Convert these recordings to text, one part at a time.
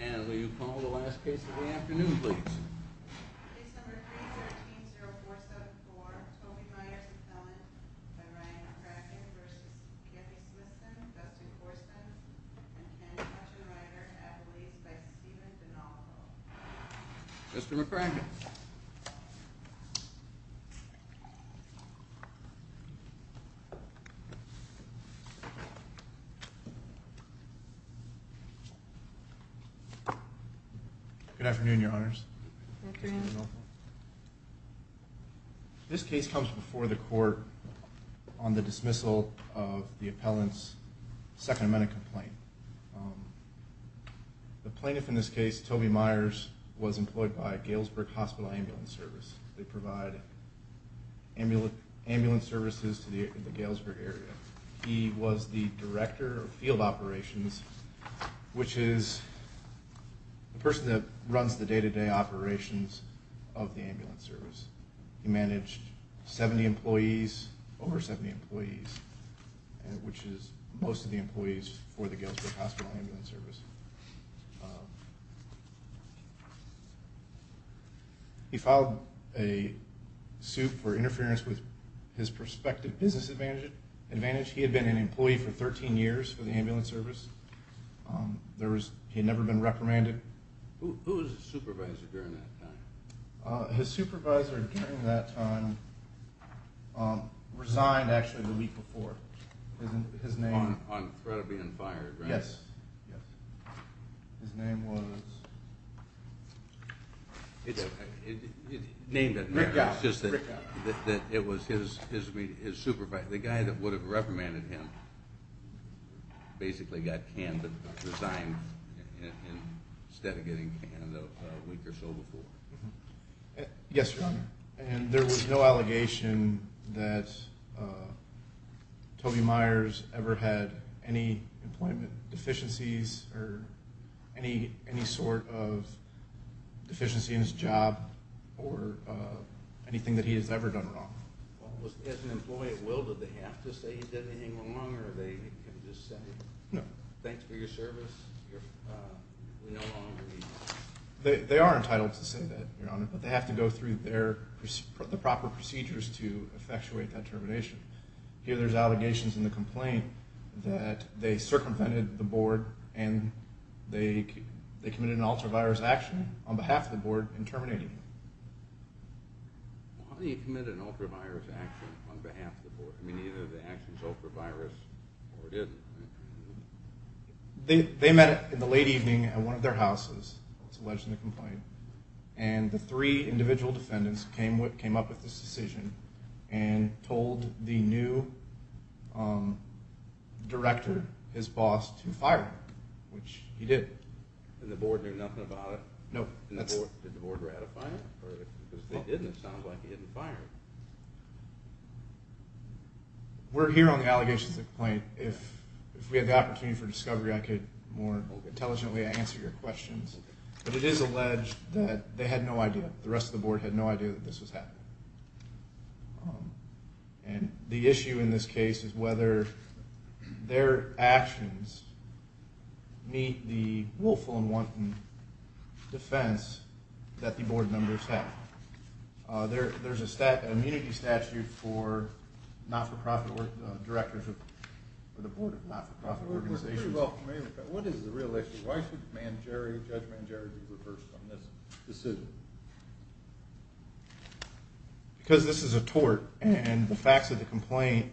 And will you call the last case of the afternoon, please? Mr McCracken. Good afternoon, Your Honors. This case comes before the court on the dismissal of the appellant's second amendment complaint. The plaintiff in this case, Toby Meyers, was employed by Galesburg Hospital Ambulance Service. They provide ambulance services to the Galesburg area. He was the director of field operations, which is, the person that runs the day-to-day operations of the ambulance service. He managed 70 employees, over 70 employees, which is most of the employees for the Galesburg Hospital Ambulance Service. He filed a suit for interference with his prospective business advantage. He had been an employee for 13 years for the ambulance service. He had never been reprimanded. Who was his supervisor during that time? His supervisor during that time resigned actually the week before. On threat of being fired, right? Yes. His name was? Name doesn't matter. It's just that it was his supervisor. The guy that would have reprimanded him basically got canned and resigned instead of getting canned a week or so before. Yes, Your Honor. And there was no allegation that Toby Meyers ever had any employment deficiencies or any sort of deficiency in his job or anything that he has ever done wrong. As an employee at will, did they have to say he did anything wrong or did they just say, thanks for your service, we no longer need you? They are entitled to say that, Your Honor, but they have to go through the proper procedures to effectuate that termination. Here there's allegations in the complaint that they circumvented the board and they committed an ultra-virus action on behalf of the board in terminating him. How do you commit an ultra-virus action on behalf of the board? I mean, either the action's ultra-virus or it isn't, right? They met in the late evening at one of their houses, it's alleged in the complaint, and the three individual defendants came up with this decision and told the new director, his boss, to fire him, which he did. And the board knew nothing about it? No. Did the board ratify it? Because if they didn't, it sounds like he didn't fire him. We're here on the allegations of the complaint. If we had the opportunity for discovery, I could more intelligently answer your questions. But it is alleged that they had no idea, the rest of the board had no idea that this was happening. And the issue in this case is whether their actions meet the willful and wanton defense that the board members have. There's an immunity statute for not-for-profit directors of the board of not-for-profit organizations. We're pretty well familiar with that. What is the real issue? Why should Judge Mangieri be reversed on this decision? Because this is a tort, and the facts of the complaint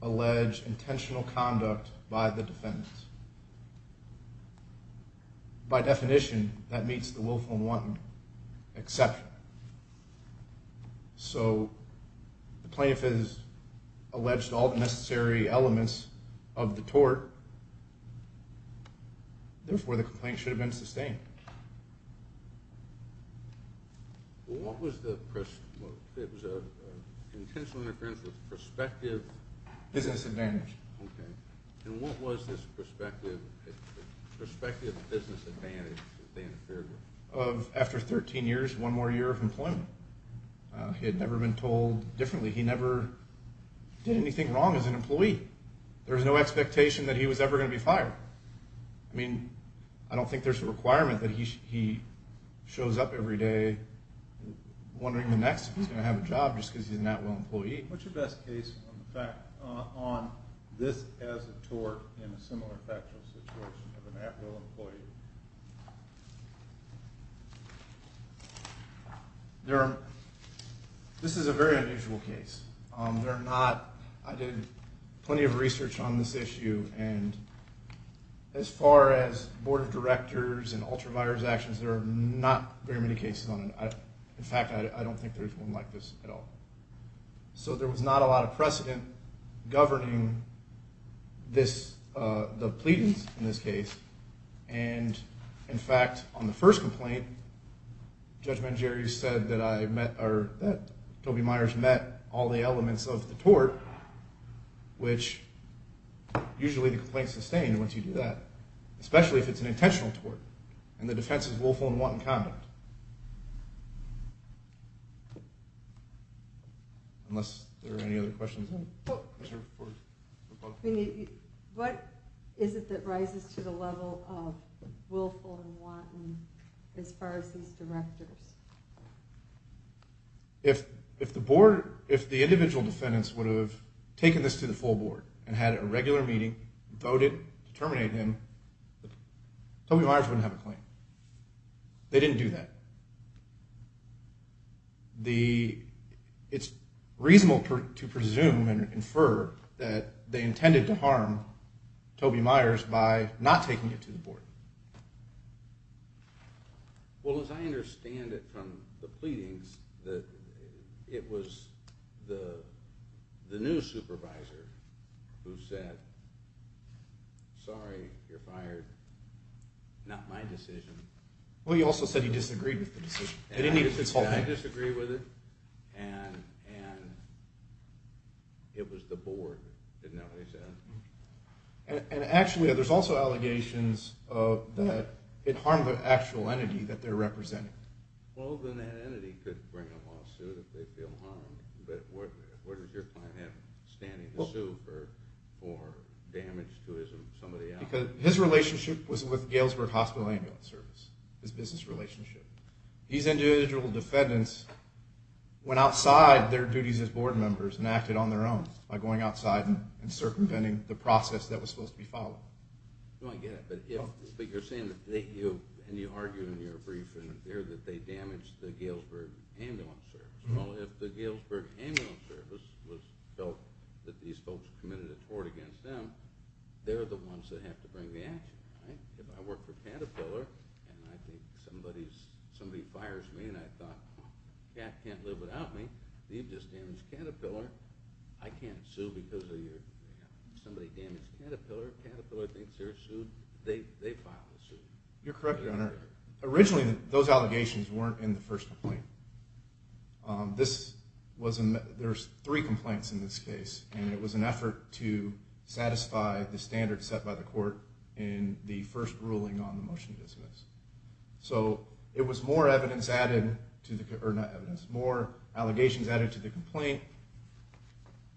allege intentional conduct by the defendants. By definition, that meets the willful and wanton exception. So the plaintiff has alleged all the necessary elements of the tort, therefore the complaint should have been sustained. What was the perspective business advantage that they interfered with? After 13 years, one more year of employment. He had never been told differently. He never did anything wrong as an employee. There was no expectation that he was ever going to be fired. I mean, I don't think there's a requirement that he shows up every day wondering the next if he's going to have a job just because he's an at-will employee. What's your best case on this as a tort in a similar factual situation of an at-will employee? This is a very unusual case. I did plenty of research on this issue, and as far as board of directors and ultra-virus actions, there are not very many cases on it. In fact, I don't think there's one like this at all. So there was not a lot of precedent governing the pleadings in this case. And in fact, on the first complaint, Judge Mangieri said that Toby Myers met all the elements of the tort, which usually the complaint is sustained once you do that, especially if it's an intentional tort and the defense is willful and wanton conduct. Unless there are any other questions? What is it that rises to the level of willful and wanton as far as these directors? If the board, if the individual defendants would have taken this to the full board and had a regular meeting, voted to terminate him, Toby Myers wouldn't have a claim. They didn't do that. It's reasonable to presume and infer that they intended to harm Toby Myers by not taking it to the board. Well, as I understand it from the pleadings, it was the new supervisor who said, sorry, you're fired, not my decision. Well, he also said he disagreed with the decision. He disagreed with it, and it was the board that didn't know what he said. And actually, there's also allegations that it harmed the actual entity that they're representing. Well, then that entity could bring a lawsuit if they feel harmed. But where does your client have standing to sue for damage to somebody else? His relationship was with Galesburg Hospital Ambulance Service, his business relationship. These individual defendants went outside their duties as board members and acted on their own by going outside and circumventing the process that was supposed to be followed. I get it, but you're saying, and you argued in your brief, that they damaged the Galesburg Ambulance Service. Well, if the Galesburg Ambulance Service felt that these folks committed a tort against them, they're the ones that have to bring the action, right? If I work for Caterpillar and I think somebody fires me and I thought, yeah, I can't live without me, you've just damaged Caterpillar, I can't sue because of you. Somebody damaged Caterpillar, Caterpillar thinks they're sued, they file a suit. You're correct, Your Honor. Originally, those allegations weren't in the first complaint. There's three complaints in this case, and it was an effort to satisfy the standards set by the court in the first ruling on the motion to dismiss. So it was more evidence added, or not evidence, more allegations added to the complaint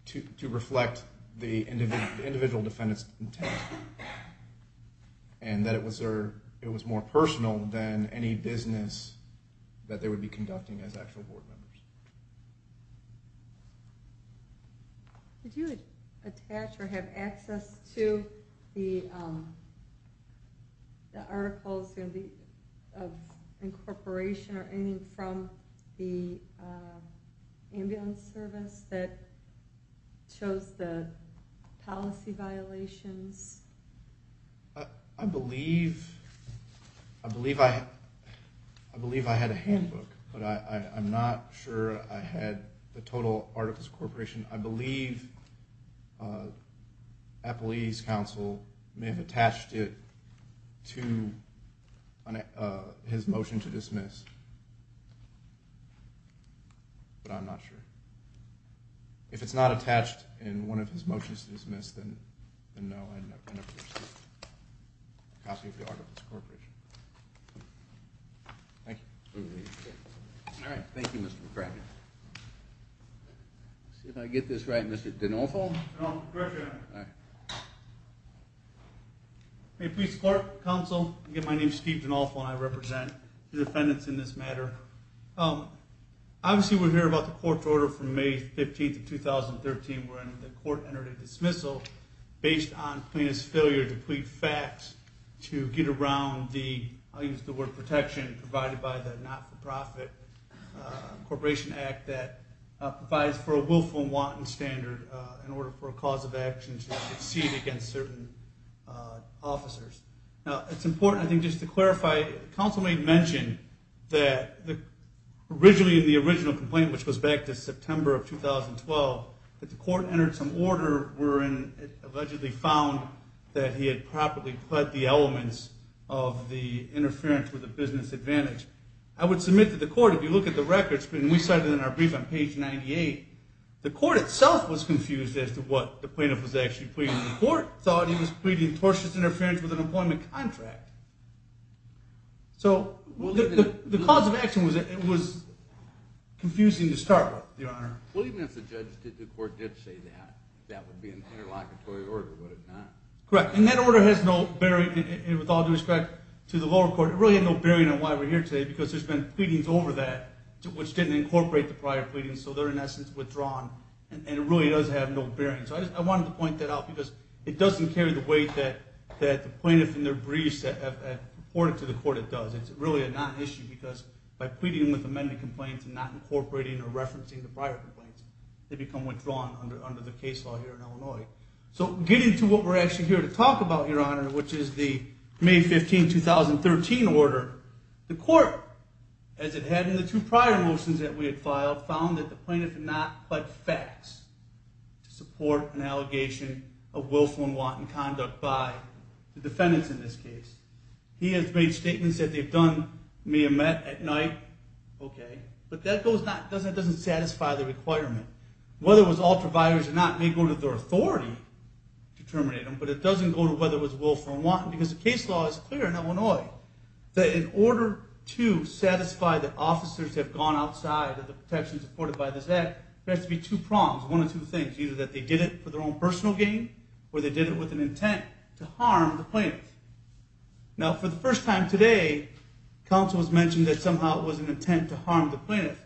to reflect the individual defendant's intent, and that it was more personal than any business that they would be conducting as actual board members. Did you attach or have access to the articles of incorporation or anything from the ambulance service that shows the policy violations? I believe I had a handbook, but I'm not sure I had the total articles of incorporation. I believe Applebee's counsel may have attached it to his motion to dismiss, but I'm not sure. If it's not attached in one of his motions to dismiss, then no, I never received a copy of the articles of incorporation. Thank you. All right, thank you, Mr. McCracken. Let's see if I get this right, Mr. DeNolfo? You're correct, Your Honor. May it please the court, counsel, again, my name is Steve DeNolfo, and I represent the defendants in this matter. Obviously, we're hearing about the court's order from May 15th of 2013 wherein the court entered a dismissal based on plaintiff's failure to plead facts to get around the, I'll use the word protection, provided by the not-for-profit incorporation act that provides for a willful and wanton standard in order for a cause of action to succeed against certain officers. Now, it's important, I think, just to clarify, counsel may have mentioned that originally in the original complaint, which goes back to September of 2012, that the court entered some order wherein it allegedly found that he had properly pled the elements of the interference with a business advantage. I would submit to the court, if you look at the records, and we cite it in our brief on page 98, the court itself was confused as to what the plaintiff was actually pleading. The court thought he was pleading tortious interference with an employment contract. So the cause of action was confusing to start with, Your Honor. Well, even if the court did say that, that would be an interlocutory order, would it not? Correct, and that order has no bearing, with all due respect to the lower court, it really had no bearing on why we're here today because there's been pleadings over that which didn't incorporate the prior pleadings, so they're in essence withdrawn, and it really does have no bearing. So I wanted to point that out because it doesn't carry the weight that the plaintiff in their briefs have reported to the court, it does. It's really a non-issue because by pleading with amended complaints and not incorporating or referencing the prior complaints, they become withdrawn under the case law here in Illinois. So getting to what we're actually here to talk about, Your Honor, which is the May 15, 2013 order, the court, as it had in the two prior motions that we had filed, found that the plaintiff had not pled facts to support an allegation of willful and wanton conduct by the defendants in this case. He has made statements that they've done, may have met at night, okay, but that doesn't satisfy the requirement. Whether it was ultraviolence or not may go to their authority to terminate them, but it doesn't go to whether it was willful or wanton because the case law is clear in Illinois that in order to satisfy that officers have gone outside of the protection supported by this act, there has to be two prongs, one of two things, either that they did it for their own personal gain or they did it with an intent to harm the plaintiff. Now, for the first time today, counsel has mentioned that somehow it was an intent to harm the plaintiff.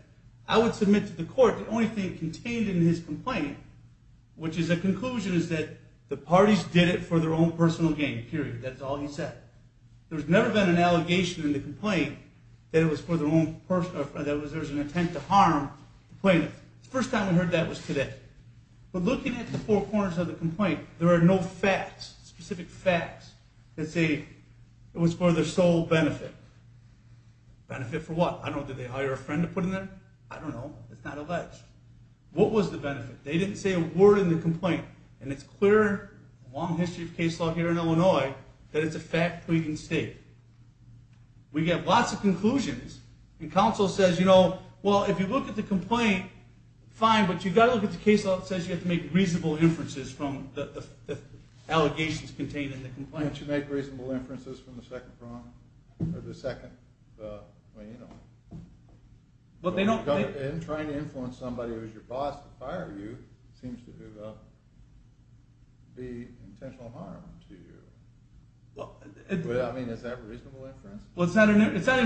I would submit to the court the only thing contained in his complaint, which is a conclusion is that the parties did it for their own personal gain, period. That's all he said. There's never been an allegation in the complaint that it was for their own personal, that there was an intent to harm the plaintiff. The first time we heard that was today. But looking at the four corners of the complaint, there are no facts, specific facts that say it was for their sole benefit. Benefit for what? I don't know. Did they hire a friend to put in there? I don't know. It's not alleged. What was the benefit? They didn't say a word in the complaint, and it's clear in the long history of case law here in Illinois that it's a fact pleading state. We get lots of conclusions. And counsel says, you know, well, if you look at the complaint, fine, but you've got to look at the case law that says you have to make reasonable inferences from the allegations contained in the complaint. Can't you make reasonable inferences from the second prong, or the second? I mean, you know. Well, they don't. Trying to influence somebody who's your boss to fire you seems to be intentional harm to you. I mean, is that reasonable inference? Well, it's not even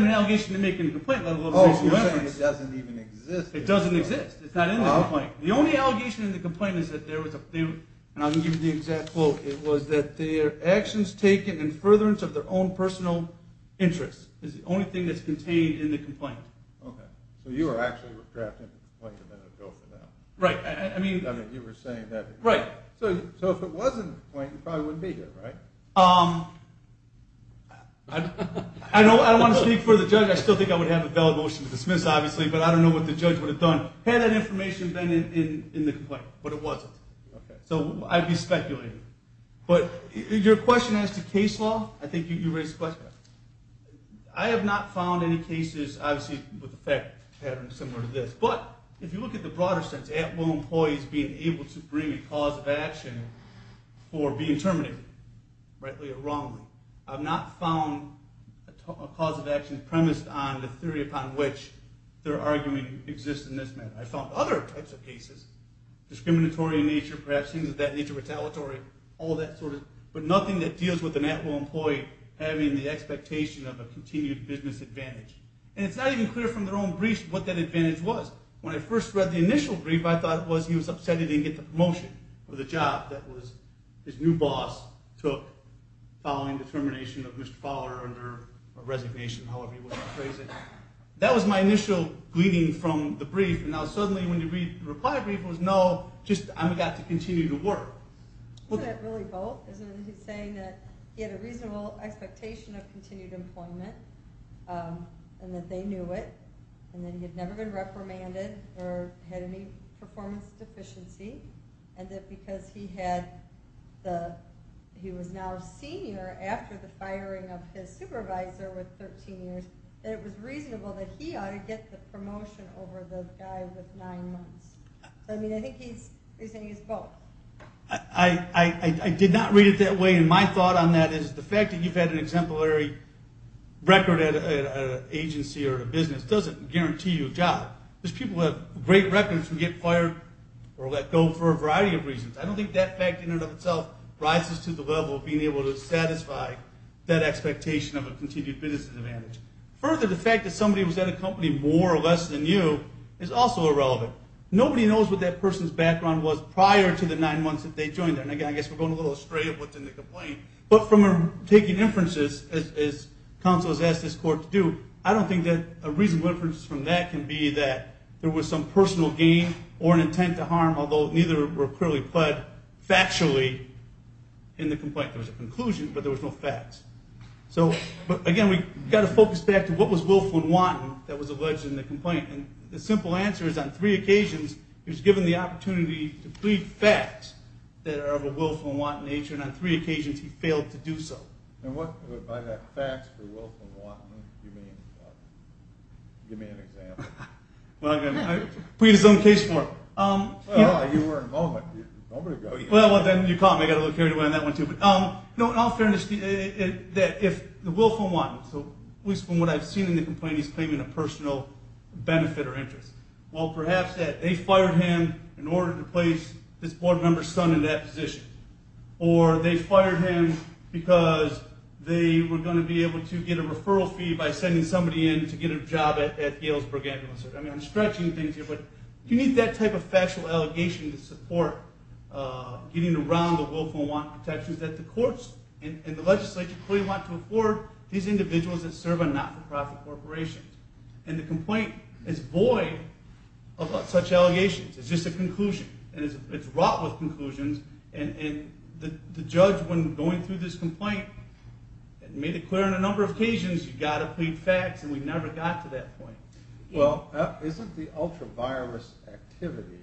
an allegation to make in the complaint. Oh, so you're saying it doesn't even exist. It doesn't exist. It's not in the complaint. The only allegation in the complaint is that there was a few, and I'll give you the exact quote. It was that their actions taken in furtherance of their own personal interests is the only thing that's contained in the complaint. Okay. So you were actually retracting the complaint a minute ago from now. Right. I mean, you were saying that. Right. So if it was in the complaint, you probably wouldn't be here, right? I don't want to speak for the judge. I still think I would have a valid motion to dismiss, obviously, but I don't know what the judge would have done had that information been in the complaint, but it wasn't. Okay. So I'd be speculating. But your question as to case law, I think you raised the question. I have not found any cases, obviously, with the fact pattern similar to this. But if you look at the broader sense, at will employees being able to bring a cause of action for being terminated, rightly or wrongly, I've not found a cause of action premised on the theory upon which their argument exists in this matter. I found other types of cases, discriminatory in nature, perhaps things of that nature, retaliatory, all that sort of, but nothing that deals with an at will employee having the expectation of a continued business advantage. And it's not even clear from their own briefs what that advantage was. When I first read the initial brief, I thought it was he was upset he didn't get the promotion for the job. That was his new boss took following the termination of Mr. Fowler under resignation, however you want to phrase it. That was my initial gleaning from the brief. And now suddenly when you read the reply brief, it was, no, just I got to continue to work. It's not really both. He's saying that he had a reasonable expectation of continued employment and that they knew it and that he had never been reprimanded or had any performance deficiency and that because he was now a senior after the firing of his supervisor with 13 years, that it was reasonable that he ought to get the promotion over the guy with nine months. I mean, I think he's saying it's both. I did not read it that way, and my thought on that is the fact that you've had an exemplary record at an agency because people have great records who get fired or let go for a variety of reasons. I don't think that fact in and of itself rises to the level of being able to satisfy that expectation of a continued business advantage. Further, the fact that somebody was at a company more or less than you is also irrelevant. Nobody knows what that person's background was prior to the nine months that they joined there. And again, I guess we're going a little astray of what's in the complaint. But from taking inferences, as counsel has asked this court to do, I don't think that a reasonable inference from that can be that there was some personal gain or an intent to harm, although neither were clearly pled factually in the complaint. There was a conclusion, but there was no facts. So again, we've got to focus back to what was willful and wanton that was alleged in the complaint. And the simple answer is on three occasions he was given the opportunity to plead facts that are of a willful and wanton nature, and on three occasions he failed to do so. And what by that facts for willful and wanton do you mean? Give me an example. Well, I'm going to plead his own case for him. Well, you were a moment ago. Well, then you caught me. I got a little carried away on that one too. No, in all fairness, if the willful and wanton, at least from what I've seen in the complaint, he's claiming a personal benefit or interest. Well, perhaps that they fired him in order to place this board member's son in that position. Or they fired him because they were going to be able to get a referral fee by sending somebody in to get a job at Galesburg Ambulance Service. I mean, I'm stretching things here, but you need that type of factual allegation to support getting around the willful and wanton protections that the courts and the legislature clearly want to afford these individuals that serve on not-for-profit corporations. And the complaint is void of such allegations. It's just a conclusion. And it's wrought with conclusions. And the judge, when going through this complaint, made it clear on a number of occasions, you've got to plead facts, and we never got to that point. Well, isn't the ultra-virus activity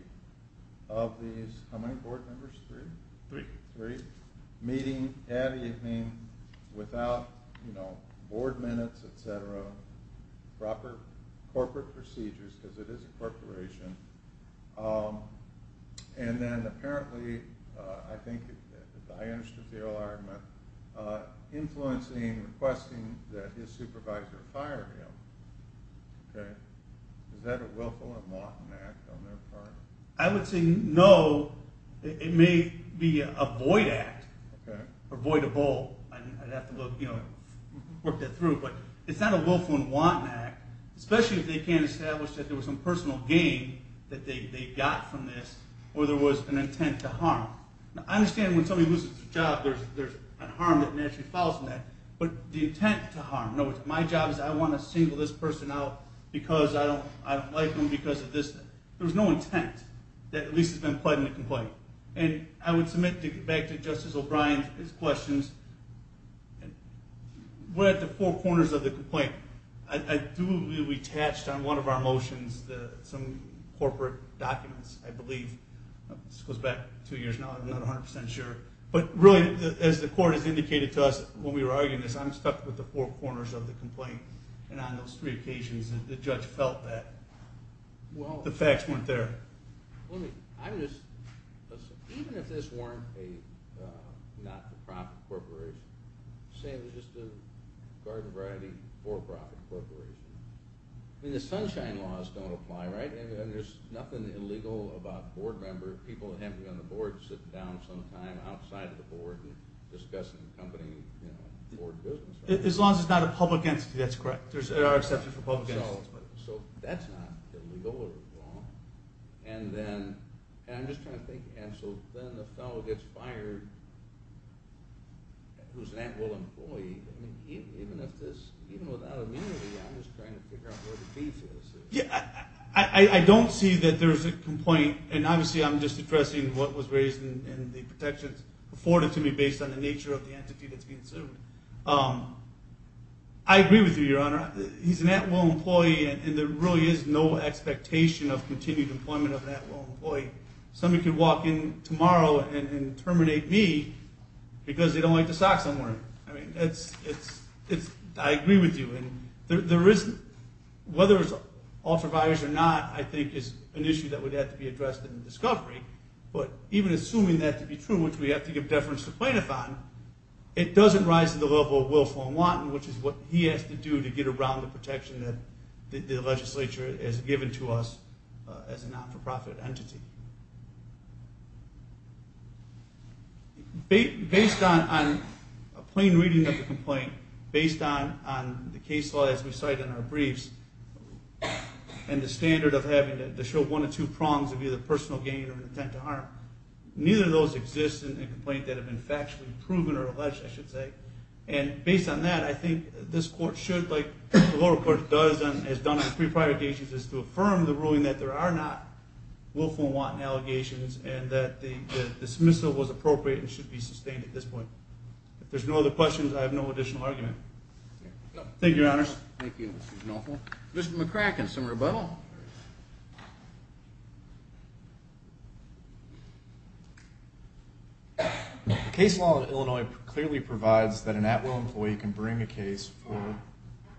of these – how many board members, three? Three. Three. Meeting at evening without, you know, board minutes, et cetera, proper corporate procedures, because it is a corporation. And then apparently, I think, as I understood the oral argument, influencing, requesting that his supervisor fire him. Okay? Is that a willful and wanton act on their part? I would say no. It may be a void act. Okay. Or void of both. I'd have to, you know, work that through. But it's not a willful and wanton act, especially if they can't establish that there was some personal gain that they got from this or there was an intent to harm. Now, I understand when somebody loses their job, there's a harm that naturally follows from that. But the intent to harm, no, my job is I want to single this person out because I don't like them because of this. There was no intent that at least has been pled in the complaint. And I would submit back to Justice O'Brien his questions. We're at the four corners of the complaint. I do believe we attached on one of our motions some corporate documents, I believe. This goes back two years now. I'm not 100% sure. But really, as the court has indicated to us when we were arguing this, I'm stuck with the four corners of the complaint. And on those three occasions, the judge felt that the facts weren't there. Even if this weren't a not-for-profit corporation, say it was just a garden variety for-profit corporation, I mean, the Sunshine Laws don't apply, right? And there's nothing illegal about a board member, people who haven't been on the board, sitting down sometime outside of the board and discussing the company board business. As long as it's not a public entity, that's correct. There are exceptions for public entities. So that's not illegal or wrong. And I'm just trying to think. And so then the fellow gets fired who's an at-will employee. I mean, even without immunity, I'm just trying to figure out where the beef is. I don't see that there's a complaint. And obviously, I'm just addressing what was raised in the protections afforded to me based on the nature of the entity that's being served. I agree with you, Your Honor. He's an at-will employee, and there really is no expectation of continued employment of an at-will employee. Somebody could walk in tomorrow and terminate me because they don't like to sock somewhere. I mean, I agree with you. And whether it's authorized or not, I think is an issue that would have to be addressed in discovery. But even assuming that to be true, which we have to give deference to Plaintiff on, it doesn't rise to the level of Wilf and Watten, which is what he has to do to get around the protection that the legislature has given to us as a not-for-profit entity. Based on a plain reading of the complaint, based on the case law, as we cite in our briefs, and the standard of having to show one or two prongs of either personal gain or intent to harm, neither of those exist in the complaint that have been factually proven or alleged, I should say. And based on that, I think this court should, like the lower court has done on three prior cases, is to affirm the ruling that there are not Wilf and Watten allegations and that the dismissal was appropriate and should be sustained at this point. If there's no other questions, I have no additional argument. Thank you, Your Honors. Mr. McCracken, some rebuttal? The case law of Illinois clearly provides that an at-will employee can bring a case for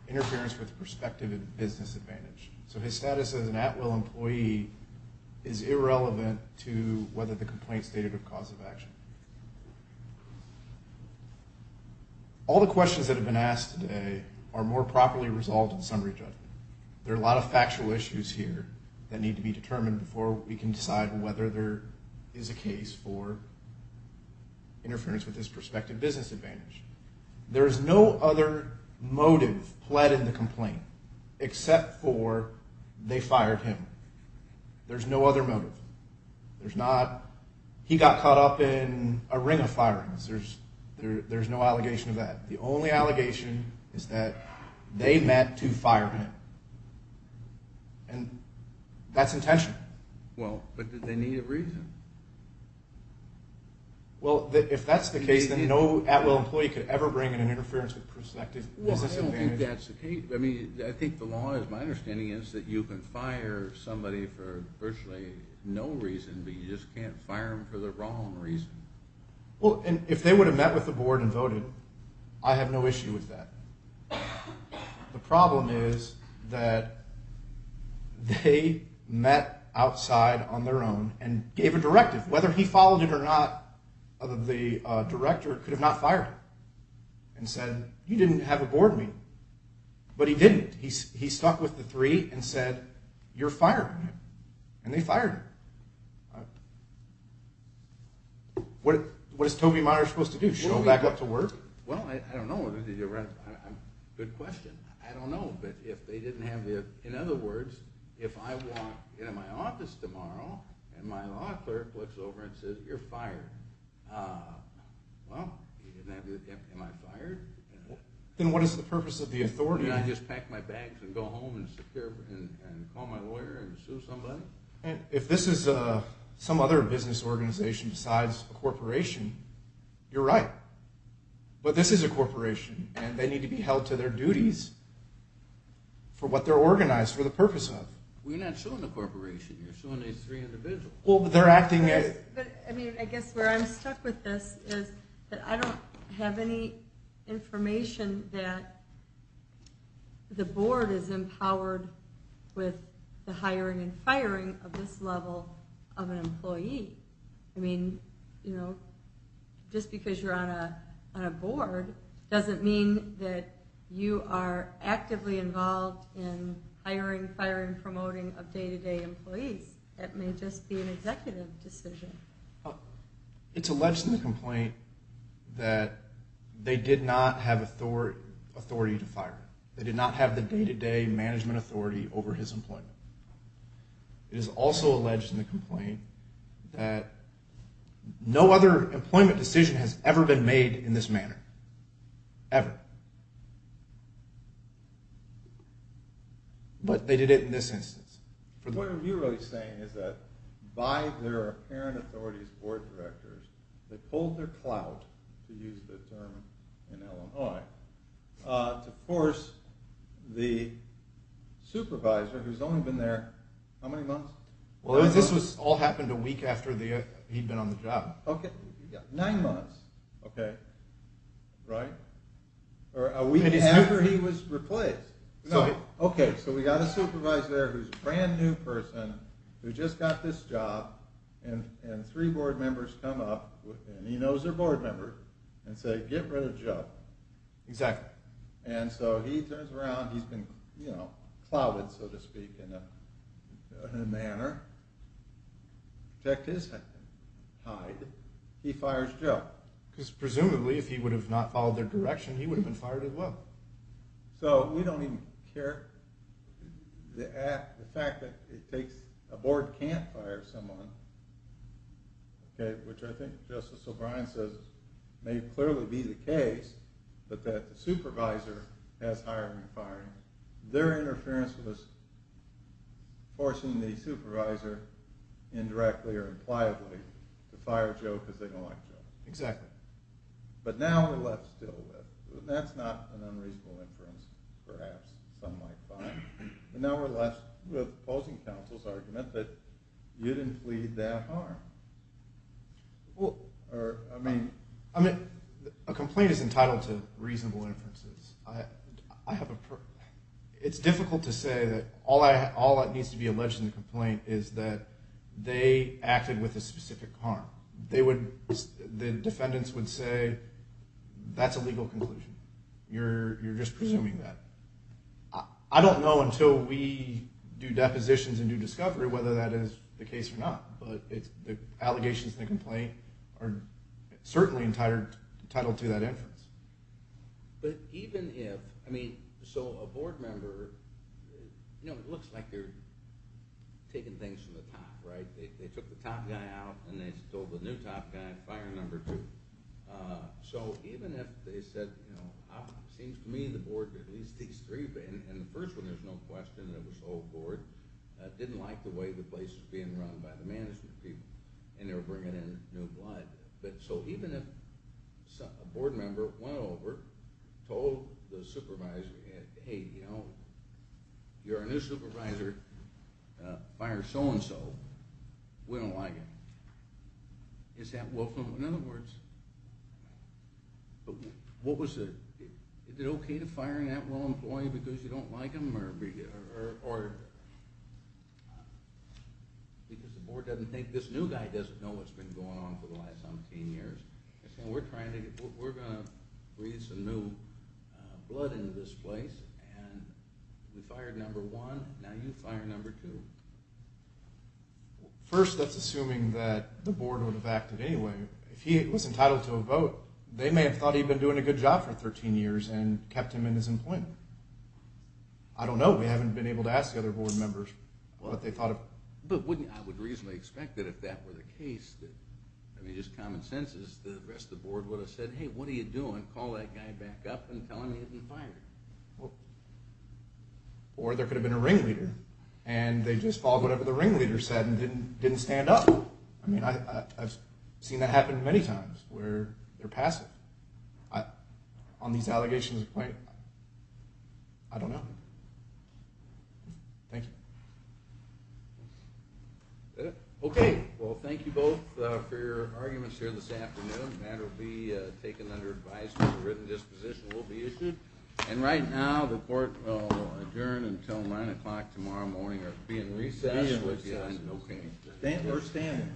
interference with perspective and business advantage. So his status as an at-will employee is irrelevant to whether the complaint stated a cause of action. All the questions that have been asked today are more properly resolved in summary judgment. There are a lot of factual issues here that need to be determined before we can decide whether there is a case for interference with his perspective and business advantage. There is no other motive pled in the complaint except for they fired him. There's no other motive. He got caught up in a ring of firings. There's no allegation of that. The only allegation is that they met to fire him, and that's intentional. Well, but did they need a reason? Well, if that's the case, then no at-will employee could ever bring an interference with perspective and business advantage. If that's the case, I mean, I think the law is my understanding is that you can fire somebody for virtually no reason, but you just can't fire them for the wrong reason. Well, and if they would have met with the board and voted, I have no issue with that. The problem is that they met outside on their own and gave a directive. Whether he followed it or not, the director could have not fired him and said, you didn't have a board meeting, but he didn't. He stuck with the three and said, you're firing him, and they fired him. What is Toby Meyer supposed to do, show him back up to work? Well, I don't know. Good question. I don't know. In other words, if I walk into my office tomorrow and my law clerk looks over and says, you're fired, well, am I fired? Then what is the purpose of the authority? Can I just pack my bags and go home and call my lawyer and sue somebody? If this is some other business organization besides a corporation, you're right, but this is a corporation, and they need to be held to their duties for what they're organized for the purpose of. Well, you're not suing a corporation. You're suing these three individuals. Well, but they're acting as – I mean, I guess where I'm stuck with this is that I don't have any information that the board is empowered I mean, you know, just because you're on a board doesn't mean that you are actively involved in hiring, firing, promoting of day-to-day employees. That may just be an executive decision. It's alleged in the complaint that they did not have authority to fire him. They did not have the day-to-day management authority over his employment. It is also alleged in the complaint that no other employment decision has ever been made in this manner, ever. But they did it in this instance. What you're really saying is that by their apparent authority as board directors, they pulled their clout, to use the term in Illinois, to force the supervisor, who's only been there, how many months? Well, this all happened a week after he'd been on the job. Okay, nine months. Okay. Right? Or a week after he was replaced. No. Okay, so we got a supervisor there who's a brand new person, who just got this job, and three board members come up, and he knows their board members, and say, get rid of Joe. Exactly. And so he turns around, he's been, you know, clouted, so to speak, in a manner. In fact, his head is tied. He fires Joe. Because presumably, if he would have not followed their direction, he would have been fired as well. So we don't even care. The fact that a board can't fire someone, okay, which I think Justice O'Brien says may clearly be the case, but that the supervisor has hired and fired, their interference was forcing the supervisor, indirectly or impliably, to fire Joe because they don't like Joe. Exactly. But now we're left still with it. That's not an unreasonable inference, perhaps. Some might find. Now we're left with opposing counsel's argument that you didn't plead their harm. Well, I mean. I mean, a complaint is entitled to reasonable inferences. It's difficult to say that all that needs to be alleged in the complaint is that they acted with a specific harm. The defendants would say, that's a legal conclusion. You're just presuming that. I don't know until we do depositions and do discovery whether that is the case or not. But the allegations in the complaint are certainly entitled to that inference. But even if, I mean, so a board member, you know, it looks like they're taking things from the top, right? They took the top guy out and they told the new top guy, fire number two. So even if they said, you know, it seems to me the board, at least these three, and the first one there's no question, it was the whole board, didn't like the way the place was being run by the management people, and they were bringing in new blood. So even if a board member went over, told the supervisor, hey, you know, you're our new supervisor, fire so-and-so. We don't like it. Is that welcome? In other words, what was the, is it okay to fire that role employee because you don't like him or because the board doesn't think, this new guy doesn't know what's been going on for the last 17 years. We're trying to get, we're going to breathe some new blood into this place, and we fired number one, now you fire number two. First, that's assuming that the board would have acted anyway. If he was entitled to a vote, they may have thought he'd been doing a good job for 13 years and kept him in his employment. I don't know. We haven't been able to ask the other board members what they thought of. But wouldn't, I would reasonably expect that if that were the case, I mean, just common sense is the rest of the board would have said, hey, what are you doing? Call that guy back up and tell him he hasn't been fired. Or there could have been a ringleader, and they just followed whatever the ringleader said and didn't stand up. I mean, I've seen that happen many times where they're passive. On these allegations of complaint, I don't know. Thank you. Okay. Well, thank you both for your arguments here this afternoon. That will be taken under advisement. A written disposition will be issued. And right now the board will adjourn until 9 o'clock tomorrow morning or be in recess. Be in recess. Okay. We're standing.